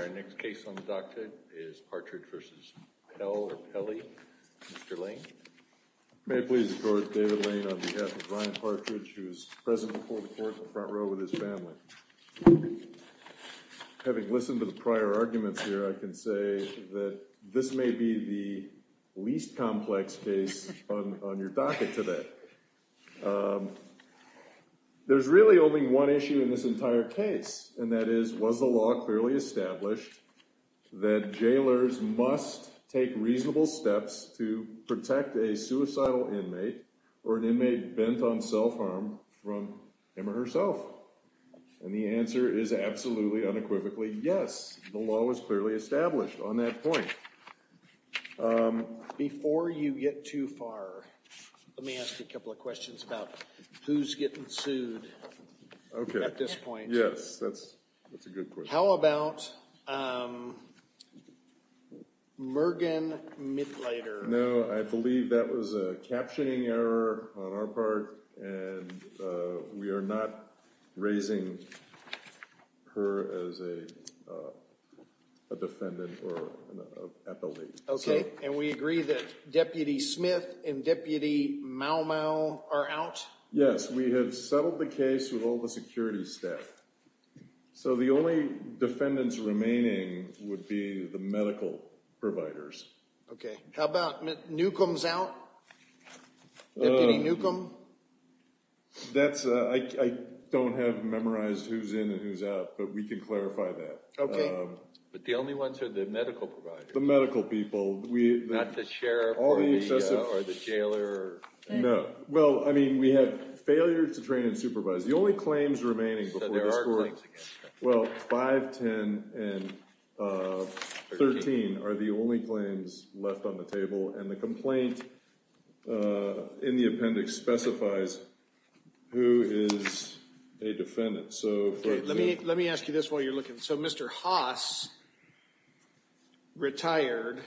Our next case on the docket is Partridge v. Pelle. Mr. Lane. May it please the court, David Lane on behalf of Ryan Partridge, who is present before the court in the front row with his family. Having listened to the prior arguments here, I can say that this may be the least complex case on your docket today. There's really only one issue in this entire case, and that is, was the law clearly established that jailers must take reasonable steps to protect a suicidal inmate or an inmate bent on self-harm from him or herself? And the answer is absolutely, unequivocally yes. The law was clearly established on that point. Before you get too far, let me ask you a couple of questions about who's getting sued at this point. Yes, that's a good question. How about Mergen Mitleider? No, I believe that was a captioning error on our part, and we are not raising her as a defendant or an appellee. Okay, and we agree that Deputy Smith and Deputy Mau Mau are out? Yes, we have settled the case with all the security staff. So the only defendants remaining would be the medical providers. Okay, how about Newcomb's out? Deputy Newcomb? That's, I don't have memorized who's in and who's out, but we can clarify that. Okay, but the only ones who are the medical providers. The medical people. Not the sheriff or the jailer. No, well, I mean, we have failure to train and supervise. The only claims remaining before this court. So there are claims again. Well, 5, 10, and 13 are the only claims left on the table, and the complaint in the appendix specifies who is a defendant. Let me ask you this while you're looking. So Mr. Haas retired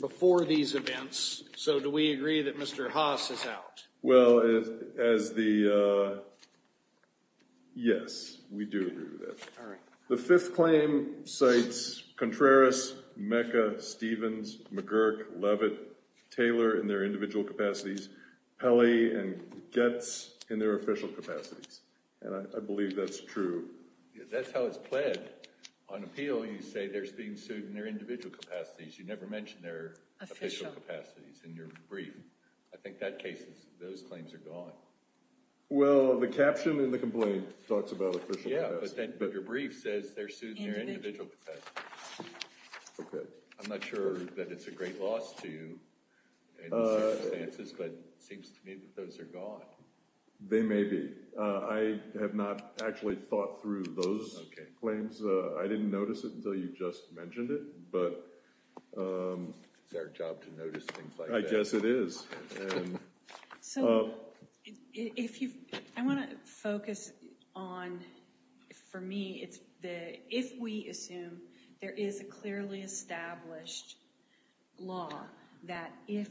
before these events, so do we agree that Mr. Haas is out? Well, as the, yes, we do agree with that. The fifth claim cites Contreras, Mecca, Stevens, McGurk, Levitt, Taylor in their individual capacities, Pelley, and Goetz in their official capacities. And I believe that's true. That's how it's played on appeal. You say there's being sued in their individual capacities. You never mentioned their official capacities in your brief. I think that case is, those claims are gone. Well, the caption in the complaint talks about official capacities. Yeah, but then your brief says they're sued in their individual capacities. Okay. I'm not sure that it's a great loss to you in these circumstances, but it seems to me that those are gone. They may be. I have not actually thought through those claims. I didn't notice it until you just mentioned it. But it's our job to notice things like that. I guess it is. So, I want to focus on, for me, if we assume there is a clearly established law that if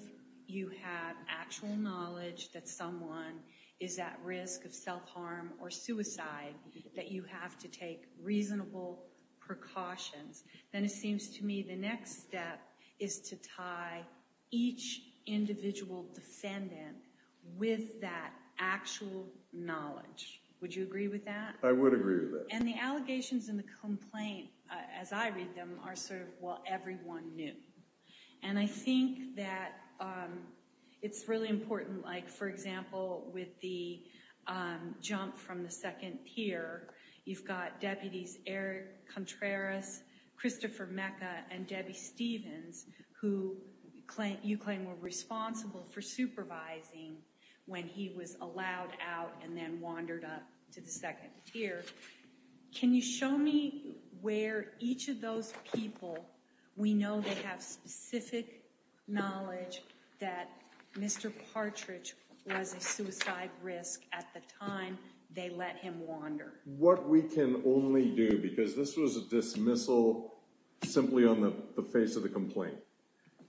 you have actual knowledge that someone is at risk of self-harm or suicide, that you have to take reasonable precautions, then it seems to me the next step is to tie each individual defendant with that actual knowledge. Would you agree with that? I would agree with that. And the allegations in the complaint, as I read them, are sort of, well, everyone knew. And I think that it's really important, like, for example, with the jump from the second tier, you've got deputies Eric Contreras, Christopher Mecca, and Debbie Stevens, who you claim were responsible for supervising when he was allowed out and then wandered up to the second tier. Can you show me where each of those people, we know they have specific knowledge that Mr. Partridge was a suicide risk at the time they let him wander? What we can only do, because this was a dismissal simply on the face of the complaint.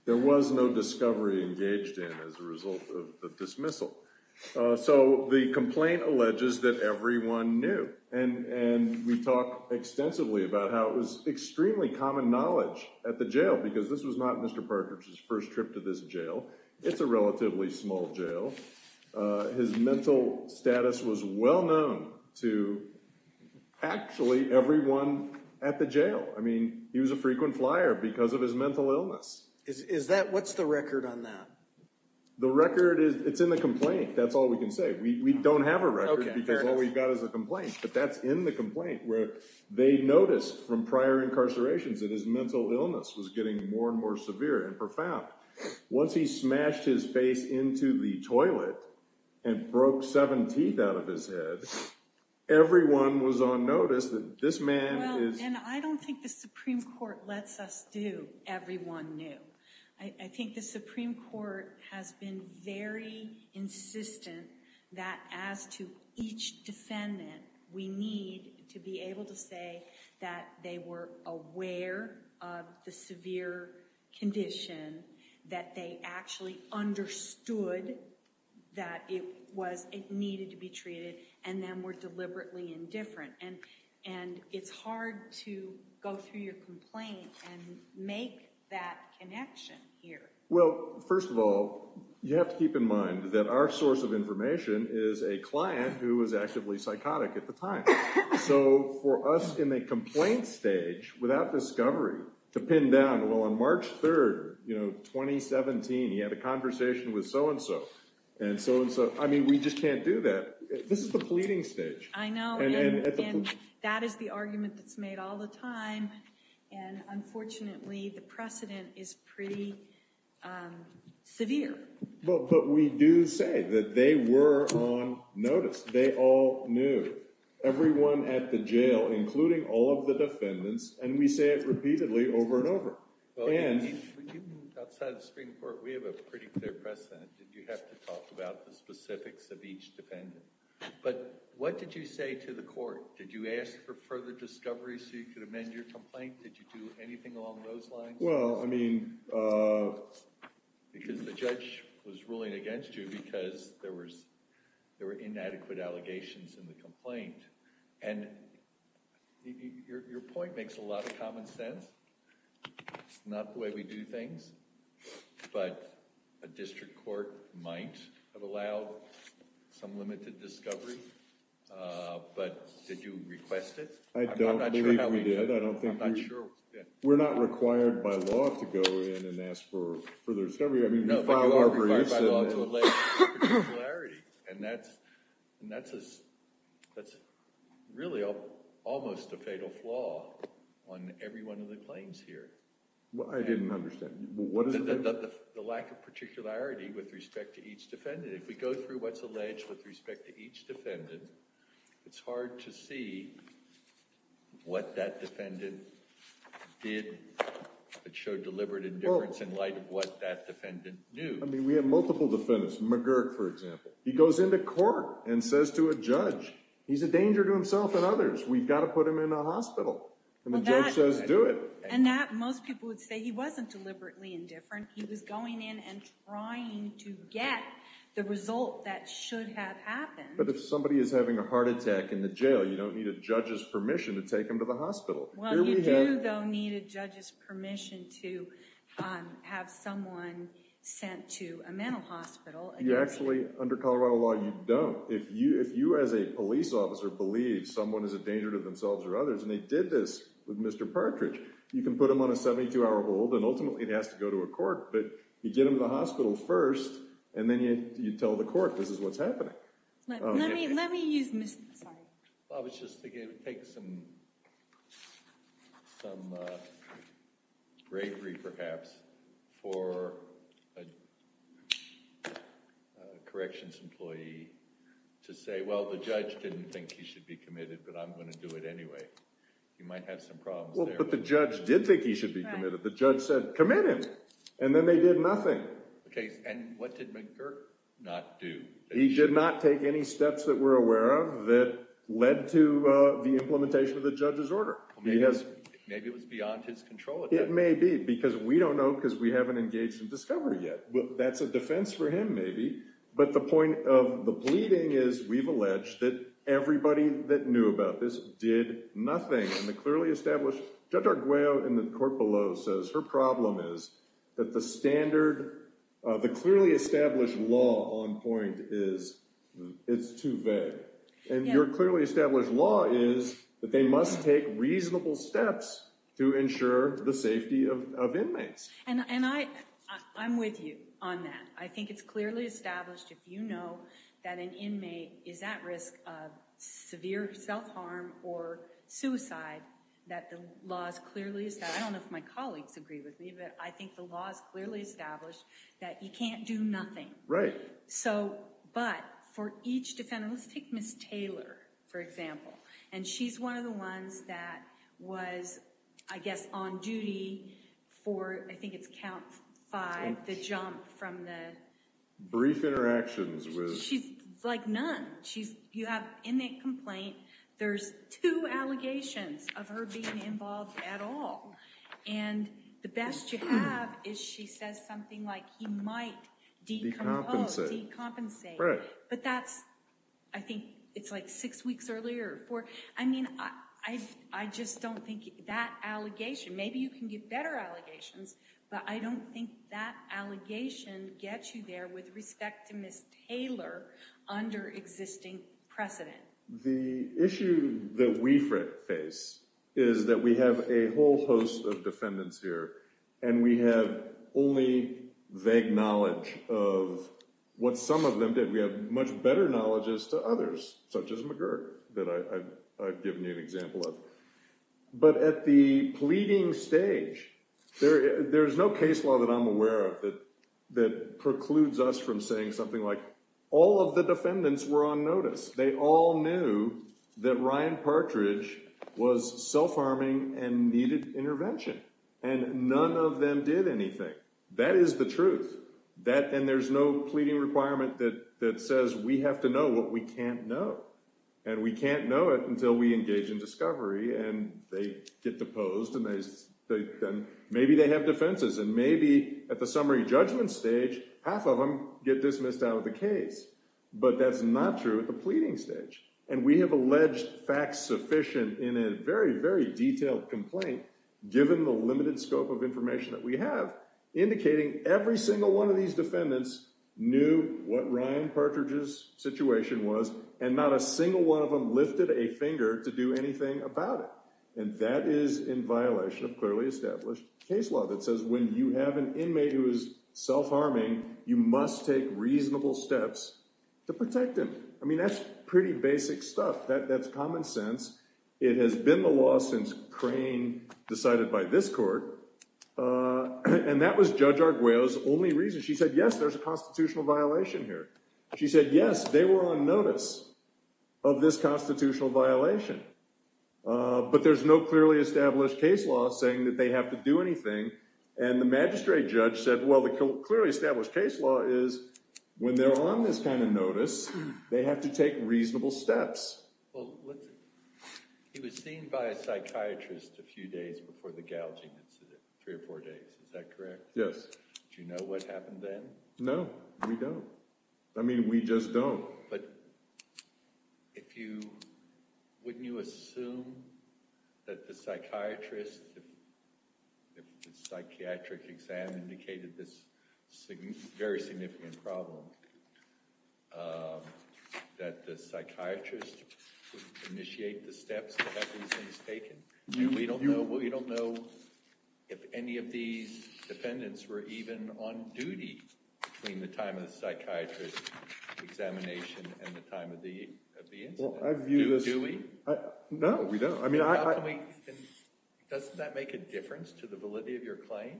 There was no discovery engaged in as a result of the dismissal. So the complaint alleges that everyone knew. And we've talked extensively about how it was extremely common knowledge at the jail, because this was not Mr. Partridge's first trip to this jail. It's a relatively small jail. His mental status was well known to actually everyone at the jail. I mean, he was a frequent flyer because of his mental illness. What's the record on that? The record is it's in the complaint. That's all we can say. We don't have a record because all we've got is a complaint. But that's in the complaint where they noticed from prior incarcerations that his mental illness was getting more and more severe and profound. Once he smashed his face into the toilet and broke seven teeth out of his head, everyone was on notice that this man is. And I don't think the Supreme Court lets us do everyone knew. I think the Supreme Court has been very insistent that as to each defendant, we need to be able to say that they were aware of the severe condition, that they actually understood that it needed to be treated, and then were deliberately indifferent. And it's hard to go through your complaint and make that connection here. Well, first of all, you have to keep in mind that our source of information is a client who was actively psychotic at the time. So for us in the complaint stage, without discovery, to pin down, well, on March 3rd, you know, 2017, he had a conversation with so-and-so and so-and-so. I mean, we just can't do that. This is the pleading stage. I know. And that is the argument that's made all the time. And unfortunately, the precedent is pretty severe. But we do say that they were on notice. They all knew, everyone at the jail, including all of the defendants. And we say it repeatedly over and over. When you moved outside the Supreme Court, we have a pretty clear precedent that you have to talk about the specifics of each defendant. But what did you say to the court? Did you ask for further discovery so you could amend your complaint? Did you do anything along those lines? Well, I mean— Because the judge was ruling against you because there were inadequate allegations in the complaint. And your point makes a lot of common sense. That's not the way we do things. But a district court might have allowed some limited discovery. But did you request it? I don't believe we did. I'm not sure how we did it. I'm not sure. We're not required by law to go in and ask for further discovery. I mean, we filed our briefs and— That's really almost a fatal flaw on every one of the claims here. I didn't understand. The lack of particularity with respect to each defendant. If we go through what's alleged with respect to each defendant, it's hard to see what that defendant did that showed deliberate indifference in light of what that defendant knew. I mean, we have multiple defendants. McGurk, for example. He goes into court and says to a judge, he's a danger to himself and others. We've got to put him in a hospital. And the judge says, do it. And that, most people would say, he wasn't deliberately indifferent. He was going in and trying to get the result that should have happened. But if somebody is having a heart attack in the jail, you don't need a judge's permission to take them to the hospital. Well, you do, though, need a judge's permission to have someone sent to a mental hospital. Actually, under Colorado law, you don't. If you, as a police officer, believe someone is a danger to themselves or others, and they did this with Mr. Partridge, you can put them on a 72-hour hold. And ultimately, it has to go to a court. But you get them to the hospital first. And then you tell the court, this is what's happening. Let me use Mr. Sorry. I was just thinking it would take some bravery, perhaps, for a corrections employee to say, well, the judge didn't think he should be committed, but I'm going to do it anyway. He might have some problems there. But the judge did think he should be committed. The judge said, commit him. And then they did nothing. And what did McGirt not do? He did not take any steps that we're aware of that led to the implementation of the judge's order. Maybe it was beyond his control. It may be, because we don't know because we haven't engaged in discovery yet. That's a defense for him, maybe. But the point of the pleading is we've alleged that everybody that knew about this did nothing. Judge Arguello in the court below says her problem is that the clearly established law on point is it's too vague. And your clearly established law is that they must take reasonable steps to ensure the safety of inmates. And I'm with you on that. I think it's clearly established, if you know that an inmate is at risk of severe self-harm or suicide, that the law is clearly established. I don't know if my colleagues agree with me, but I think the law is clearly established that you can't do nothing. Right. But for each defendant, let's take Ms. Taylor, for example. And she's one of the ones that was, I guess, on duty for, I think it's count five, the jump from the- Brief interactions with- She's like none. You have inmate complaint. There's two allegations of her being involved at all. And the best you have is she says something like he might decompose, decompensate. Right. But that's, I think it's like six weeks earlier or four. I mean, I just don't think that allegation, maybe you can get better allegations, but I don't think that allegation gets you there with respect to Ms. Taylor under existing precedent. The issue that we face is that we have a whole host of defendants here, and we have only vague knowledge of what some of them did. We have much better knowledges to others, such as McGirt, that I've given you an example of. But at the pleading stage, there is no case law that I'm aware of that precludes us from saying something like all of the defendants were on notice. They all knew that Ryan Partridge was self-harming and needed intervention. And none of them did anything. That is the truth. And there's no pleading requirement that says we have to know what we can't know. And we can't know it until we engage in discovery, and they get deposed, and maybe they have defenses. And maybe at the summary judgment stage, half of them get dismissed out of the case. But that's not true at the pleading stage. And we have alleged facts sufficient in a very, very detailed complaint, given the limited scope of information that we have, indicating every single one of these defendants knew what Ryan Partridge's situation was, and not a single one of them lifted a finger to do anything about it. And that is in violation of clearly established case law that says when you have an inmate who is self-harming, you must take reasonable steps to protect them. I mean, that's pretty basic stuff. That's common sense. It has been the law since Crane decided by this court. And that was Judge Arguello's only reason. She said, yes, there's a constitutional violation here. She said, yes, they were on notice of this constitutional violation. But there's no clearly established case law saying that they have to do anything. And the magistrate judge said, well, the clearly established case law is when they're on this kind of notice, they have to take reasonable steps. Well, he was seen by a psychiatrist a few days before the gouging incident, three or four days. Is that correct? Yes. Do you know what happened then? No, we don't. I mean, we just don't. But wouldn't you assume that the psychiatrist, if the psychiatric exam indicated this very significant problem, that the psychiatrist would initiate the steps to have these things taken? We don't know if any of these defendants were even on duty between the time of the psychiatrist's examination and the time of the incident. Do we? No, we don't. Doesn't that make a difference to the validity of your claim?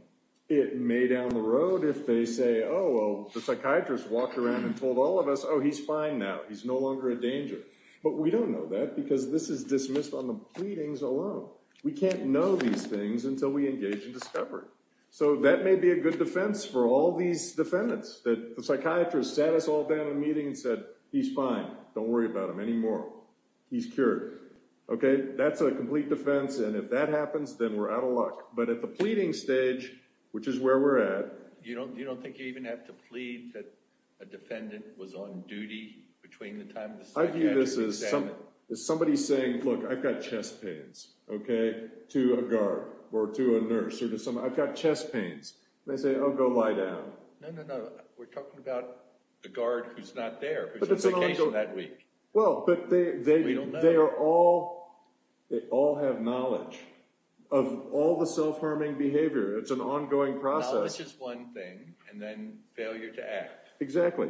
It may down the road if they say, oh, well, the psychiatrist walked around and told all of us, oh, he's fine now. He's no longer a danger. But we don't know that because this is dismissed on the pleadings alone. We can't know these things until we engage in discovery. So that may be a good defense for all these defendants, that the psychiatrist sat us all down in a meeting and said, he's fine. Don't worry about him anymore. He's cured. OK, that's a complete defense. And if that happens, then we're out of luck. But at the pleading stage, which is where we're at. You don't think you even have to plead that a defendant was on duty between the time of the psychiatric exam? I view this as somebody saying, look, I've got chest pains, OK, to a guard or to a nurse or to someone. I've got chest pains. And they say, oh, go lie down. No, no, no. We're talking about the guard who's not there, who's on vacation that week. Well, but they are all, they all have knowledge of all the self-harming behavior. It's an ongoing process. Knowledge is one thing, and then failure to act. Exactly.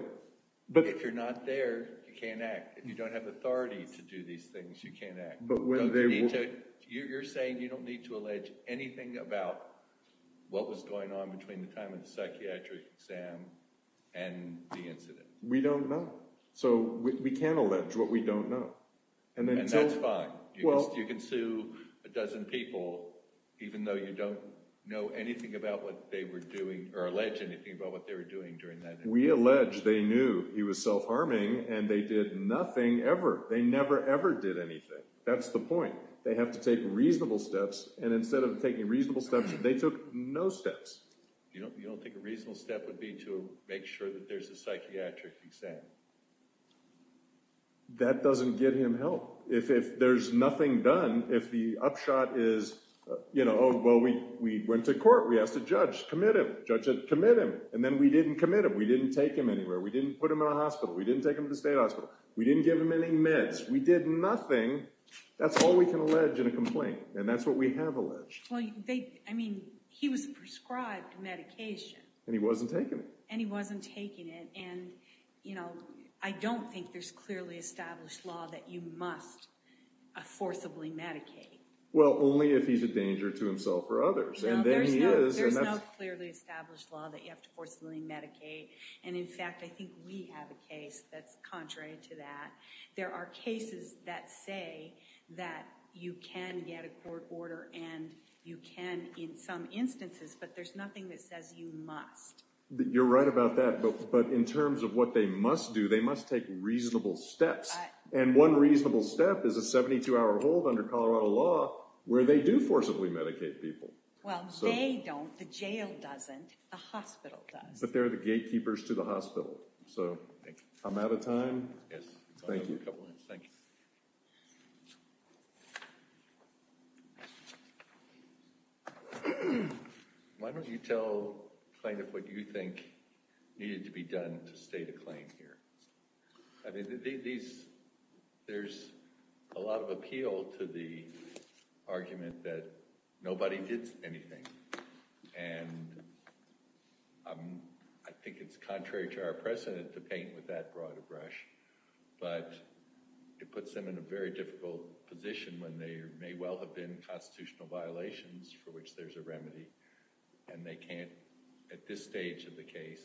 But if you're not there, you can't act. If you don't have authority to do these things, you can't act. You're saying you don't need to allege anything about what was going on between the time of the psychiatric exam and the incident. We don't know. So we can allege what we don't know. And that's fine. You can sue a dozen people even though you don't know anything about what they were doing or allege anything about what they were doing during that. We allege they knew he was self-harming and they did nothing ever. They never, ever did anything. That's the point. They have to take reasonable steps. And instead of taking reasonable steps, they took no steps. You don't think a reasonable step would be to make sure that there's a psychiatric exam? That doesn't get him help. If there's nothing done, if the upshot is, you know, oh, well, we went to court. We asked a judge to commit him. The judge said commit him. And then we didn't commit him. We didn't take him anywhere. We didn't put him in a hospital. We didn't take him to the state hospital. We didn't give him any meds. We did nothing. That's all we can allege in a complaint, and that's what we have alleged. Well, I mean, he was prescribed medication. And he wasn't taking it. And he wasn't taking it. And, you know, I don't think there's clearly established law that you must forcibly medicate. Well, only if he's a danger to himself or others. And then he is. There's no clearly established law that you have to forcibly medicate. And, in fact, I think we have a case that's contrary to that. There are cases that say that you can get a court order and you can in some instances, but there's nothing that says you must. You're right about that. But in terms of what they must do, they must take reasonable steps. And one reasonable step is a 72-hour hold under Colorado law where they do forcibly medicate people. Well, they don't. The jail doesn't. The hospital does. But they're the gatekeepers to the hospital. So I'm out of time. Yes. Thank you. Thank you. Why don't you tell kind of what you think needed to be done to state a claim here? I mean, there's a lot of appeal to the argument that nobody did anything. And I think it's contrary to our precedent to paint with that broad a brush. But it puts them in a very difficult position when there may well have been constitutional violations for which there's a remedy. And they can't, at this stage of the case,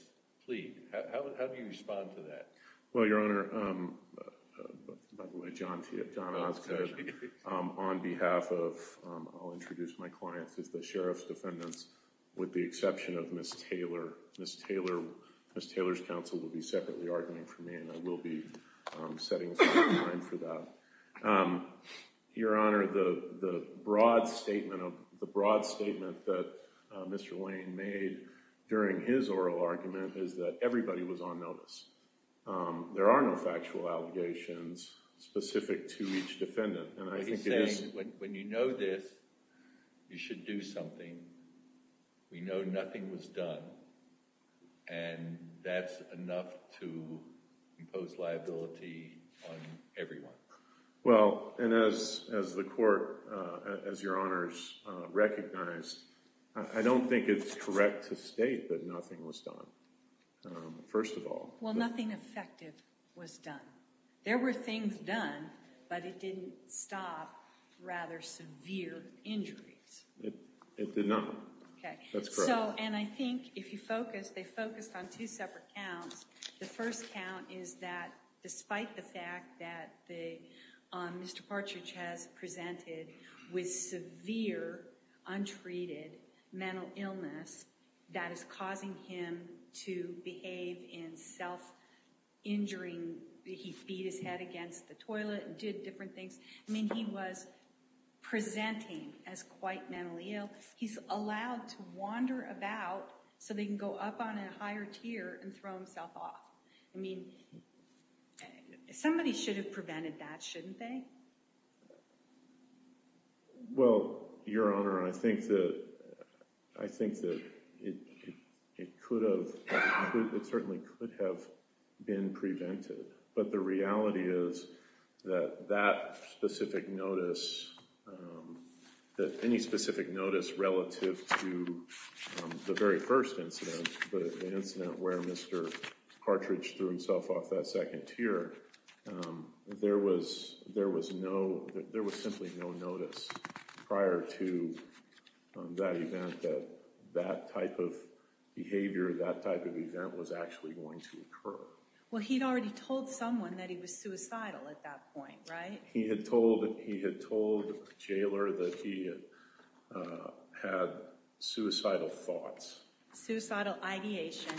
plead. How do you respond to that? Well, Your Honor, by the way, John Osgood, on behalf of, I'll introduce my clients, is the sheriff's defendants with the exception of Ms. Taylor. Ms. Taylor's counsel will be separately arguing for me. And I will be setting aside time for that. Your Honor, the broad statement that Mr. Wayne made during his oral argument is that everybody was on notice. There are no factual allegations specific to each defendant. Well, he's saying when you know this, you should do something. We know nothing was done. And that's enough to impose liability on everyone. Well, and as the court, as Your Honors recognize, I don't think it's correct to state that nothing was done, first of all. Well, nothing effective was done. There were things done, but it didn't stop rather severe injuries. It did not. That's correct. And I think if you focus, they focused on two separate counts. The first count is that despite the fact that Mr. Partridge has presented with severe, untreated mental illness that is causing him to behave in self-injuring. He beat his head against the toilet and did different things. I mean, he was presenting as quite mentally ill. He's allowed to wander about so they can go up on a higher tier and throw himself off. I mean, somebody should have prevented that, shouldn't they? Well, Your Honor, I think that it could have. It certainly could have been prevented. But the reality is that that specific notice, that any specific notice relative to the very first incident, the incident where Mr. Partridge threw himself off that second tier, there was simply no notice prior to that event that that type of behavior, that type of event was actually going to occur. Well, he'd already told someone that he was suicidal at that point, right? He had told the jailer that he had suicidal thoughts. Suicidal ideation.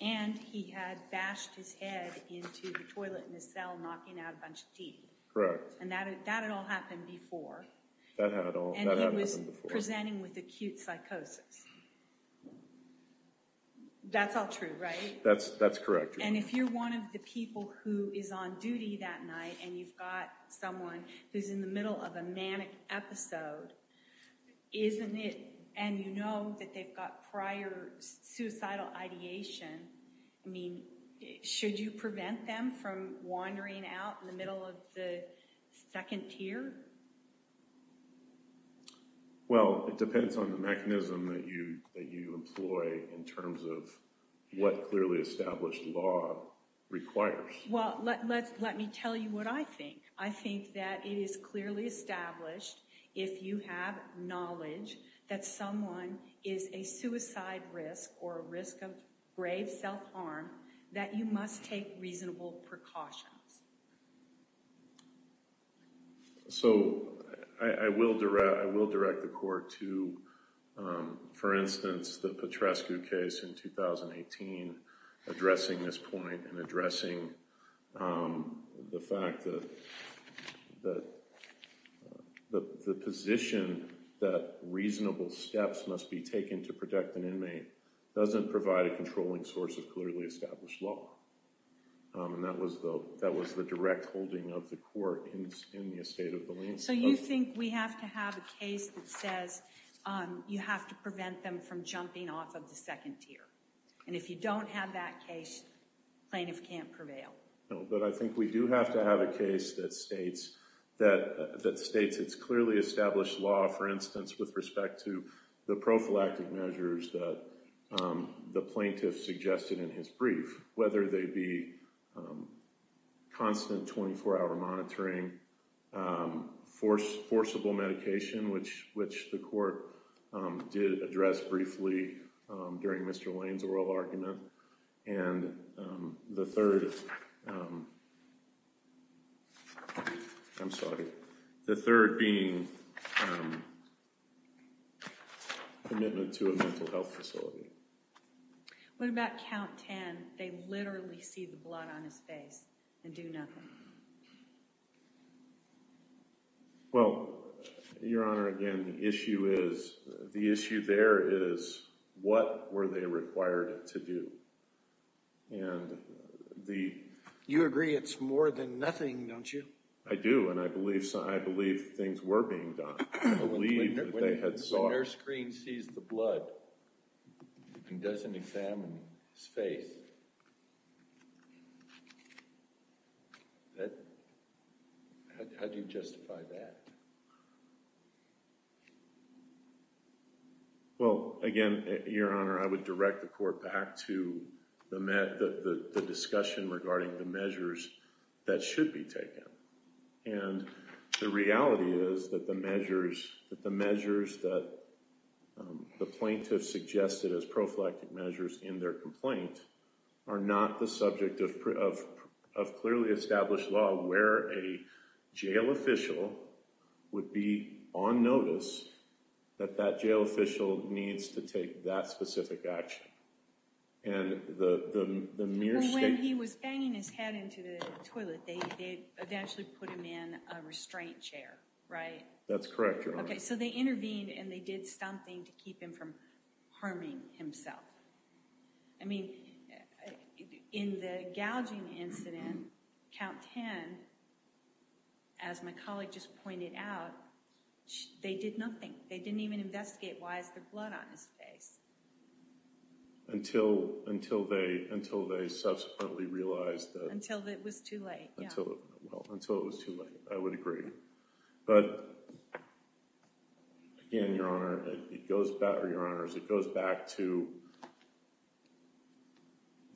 And he had bashed his head into the toilet in the cell knocking out a bunch of tea. Correct. And that had all happened before. That had all happened before. And he was presenting with acute psychosis. That's all true, right? That's correct, Your Honor. And if you're one of the people who is on duty that night and you've got someone who's in the middle of a manic episode, isn't it, and you know that they've got prior suicidal ideation, I mean, should you prevent them from wandering out in the middle of the second tier? Well, it depends on the mechanism that you employ in terms of what clearly established law requires. Well, let me tell you what I think. I think that it is clearly established if you have knowledge that someone is a suicide risk or a risk of grave self-harm that you must take reasonable precautions. So I will direct the court to, for instance, the Petrescu case in 2018, addressing this point and addressing the fact that the position that reasonable steps must be taken to protect an inmate doesn't provide a controlling source of clearly established law. And that was the direct holding of the court in the estate of the lien. So you think we have to have a case that says you have to prevent them from jumping off of the second tier? And if you don't have that case, plaintiff can't prevail. But I think we do have to have a case that states it's clearly established law, for instance, with respect to the prophylactic measures that the plaintiff suggested in his brief, whether they be constant 24-hour monitoring, forcible medication, which the court did address briefly during Mr. Lane's oral argument, and the third, I'm sorry, the third being commitment to a mental health facility. What about count 10? They literally see the blood on his face and do nothing. Well, Your Honor, again, the issue there is what were they required to do? You agree it's more than nothing, don't you? I do, and I believe things were being done. When their screen sees the blood and doesn't examine his face, how do you justify that? Well, again, Your Honor, I would direct the court back to the discussion regarding the measures that should be taken. And the reality is that the measures that the plaintiff suggested as prophylactic measures in their complaint are not the subject of clearly established law where a jail official would be on notice that that jail official needs to take that specific action. When he was banging his head into the toilet, they eventually put him in a restraint chair, right? That's correct, Your Honor. Okay, so they intervened and they did something to keep him from harming himself. I mean, in the gouging incident, count 10, as my colleague just pointed out, they did nothing. They didn't even investigate why is there blood on his face. Until they subsequently realized that… Until it was too late, yeah. Well, until it was too late, I would agree. But, again, Your Honor, it goes back to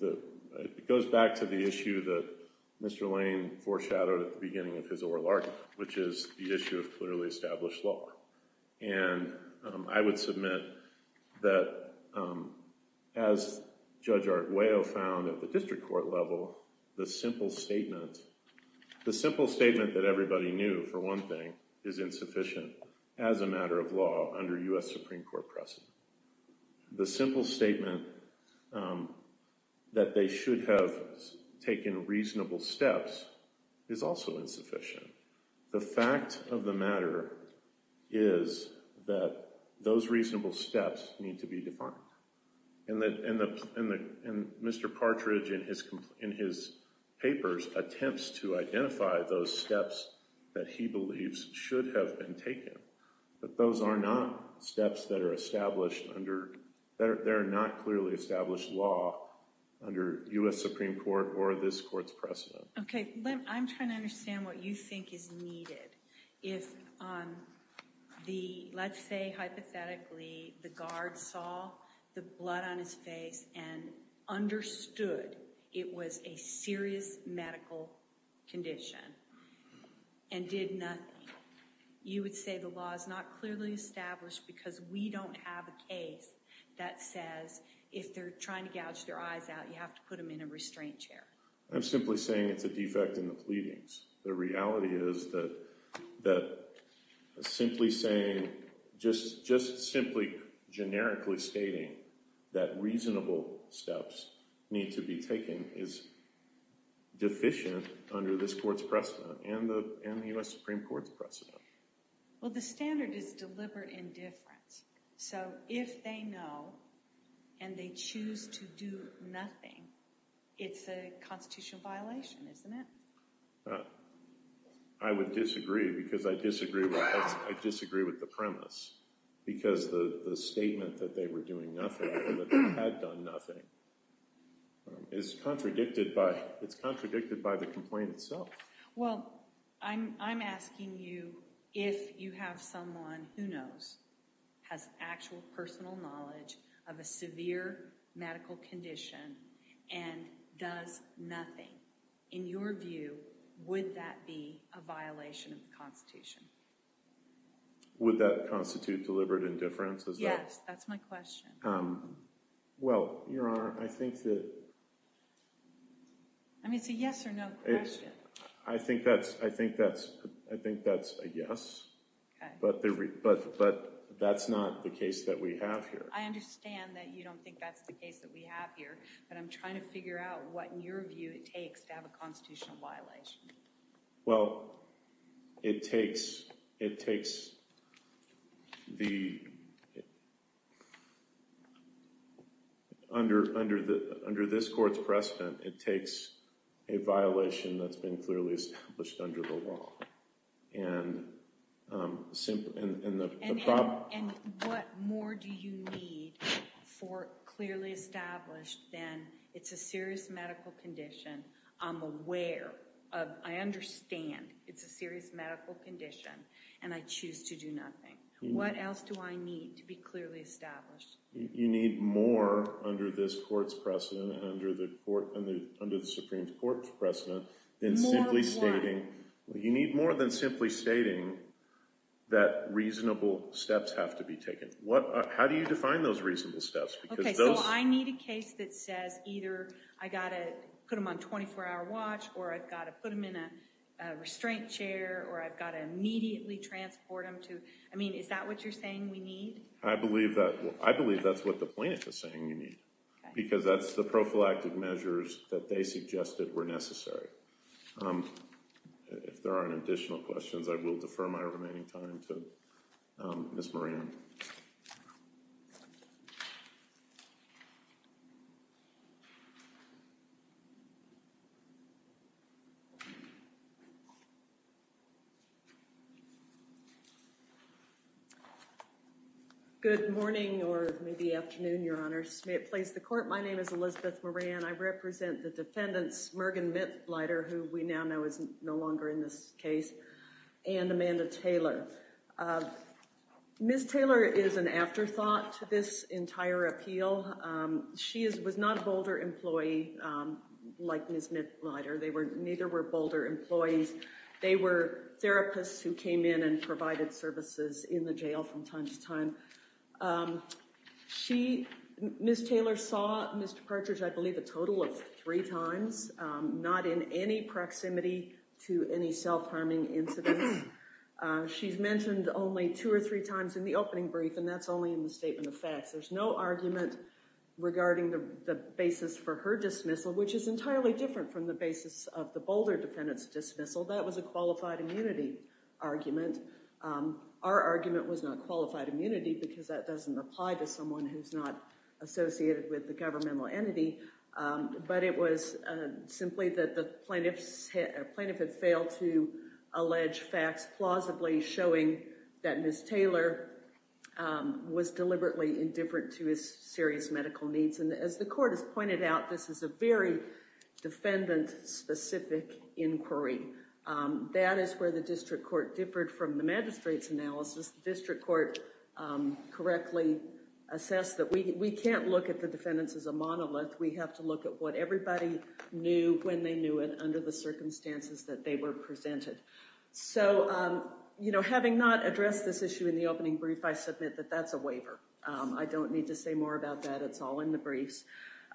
the issue that Mr. Lane foreshadowed at the beginning of his oral argument, which is the issue of clearly established law. And I would submit that, as Judge Arguello found at the district court level, the simple statement that everybody knew, for one thing, is insufficient as a matter of law under U.S. Supreme Court precedent. The simple statement that they should have taken reasonable steps is also insufficient. The fact of the matter is that those reasonable steps need to be defined. And Mr. Partridge, in his papers, attempts to identify those steps that he believes should have been taken. But those are not steps that are established under… They're not clearly established law under U.S. Supreme Court or this court's precedent. Okay. I'm trying to understand what you think is needed if, let's say, hypothetically, the guard saw the blood on his face and understood it was a serious medical condition and did nothing. You would say the law is not clearly established because we don't have a case that says if they're trying to gouge their eyes out, you have to put them in a restraint chair. I'm simply saying it's a defect in the pleadings. The reality is that simply saying… just simply generically stating that reasonable steps need to be taken is deficient under this court's precedent and the U.S. Supreme Court's precedent. Well, the standard is deliberate indifference. So if they know and they choose to do nothing, it's a constitutional violation, isn't it? I would disagree because I disagree with the premise because the statement that they were doing nothing or that they had done nothing is contradicted by… it's contradicted by the complaint itself. Well, I'm asking you if you have someone who knows, has actual personal knowledge of a severe medical condition and does nothing. In your view, would that be a violation of the Constitution? Would that constitute deliberate indifference? Yes, that's my question. Well, Your Honor, I think that… I mean, it's a yes or no question. I think that's a yes, but that's not the case that we have here. I understand that you don't think that's the case that we have here, but I'm trying to figure out what, in your view, it takes to have a constitutional violation. Well, it takes the… under this court's precedent, it takes a violation that's been clearly established under the law. And what more do you need for clearly established than it's a serious medical condition, I'm aware of, I understand it's a serious medical condition, and I choose to do nothing. What else do I need to be clearly established? You need more under this court's precedent and under the Supreme Court's precedent than simply stating… More than what? You need more than simply stating that reasonable steps have to be taken. How do you define those reasonable steps? Okay, so I need a case that says either I've got to put him on a 24-hour watch or I've got to put him in a restraint chair or I've got to immediately transport him to… I mean, is that what you're saying we need? I believe that's what the plaintiff is saying you need, because that's the prophylactic measures that they suggested were necessary. If there aren't additional questions, I will defer my remaining time to Ms. Moran. Good morning, or maybe afternoon, Your Honor. May it please the Court, my name is Elizabeth Moran. I represent the defendants, Mergen Mitleider, who we now know is no longer in this case, and Amanda Taylor. Ms. Taylor is an afterthought to this entire appeal. She was not a Boulder employee like Ms. Mitleider. Neither were Boulder employees. They were therapists who came in and provided services in the jail from time to time. Ms. Taylor saw Mr. Partridge, I believe, a total of three times, not in any proximity to any self-harming incidents. She's mentioned only two or three times in the opening brief, and that's only in the statement of facts. There's no argument regarding the basis for her dismissal, which is entirely different from the basis of the Boulder defendant's dismissal. That was a qualified immunity argument. Our argument was not qualified immunity, because that doesn't apply to someone who's not associated with the governmental entity. But it was simply that the plaintiff had failed to allege facts plausibly showing that Ms. Taylor was deliberately indifferent to his serious medical needs. And as the Court has pointed out, this is a very defendant-specific inquiry. That is where the district court differed from the magistrate's analysis. The district court correctly assessed that we can't look at the defendants as a monolith. We have to look at what everybody knew when they knew it under the circumstances that they were presented. So, you know, having not addressed this issue in the opening brief, I submit that that's a waiver. I don't need to say more about that. It's all in the briefs.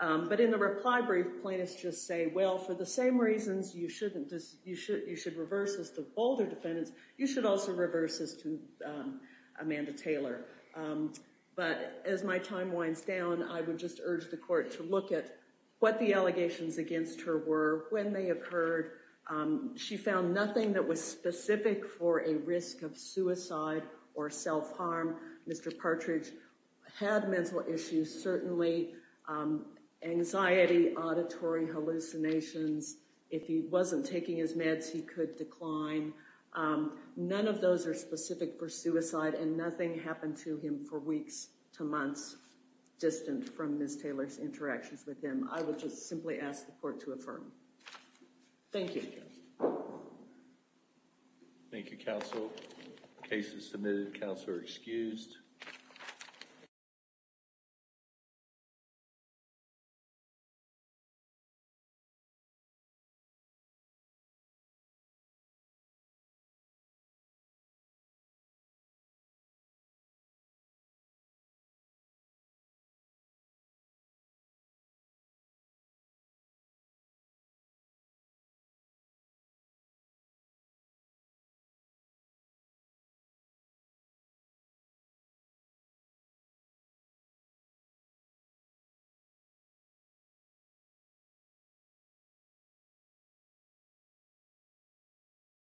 But in the reply brief, plaintiffs just say, well, for the same reasons you should reverse this to Boulder defendants, you should also reverse this to Amanda Taylor. But as my time winds down, I would just urge the Court to look at what the allegations against her were, when they occurred. She found nothing that was specific for a risk of suicide or self-harm. Mr. Partridge had mental issues, certainly, anxiety, auditory hallucinations. If he wasn't taking his meds, he could decline. None of those are specific for suicide, and nothing happened to him for weeks to months, distant from Ms. Taylor's interactions with him. I would just simply ask the Court to affirm. Thank you. Thank you, Counsel. The case is submitted. Counsel are excused. The case is submitted. The case is submitted.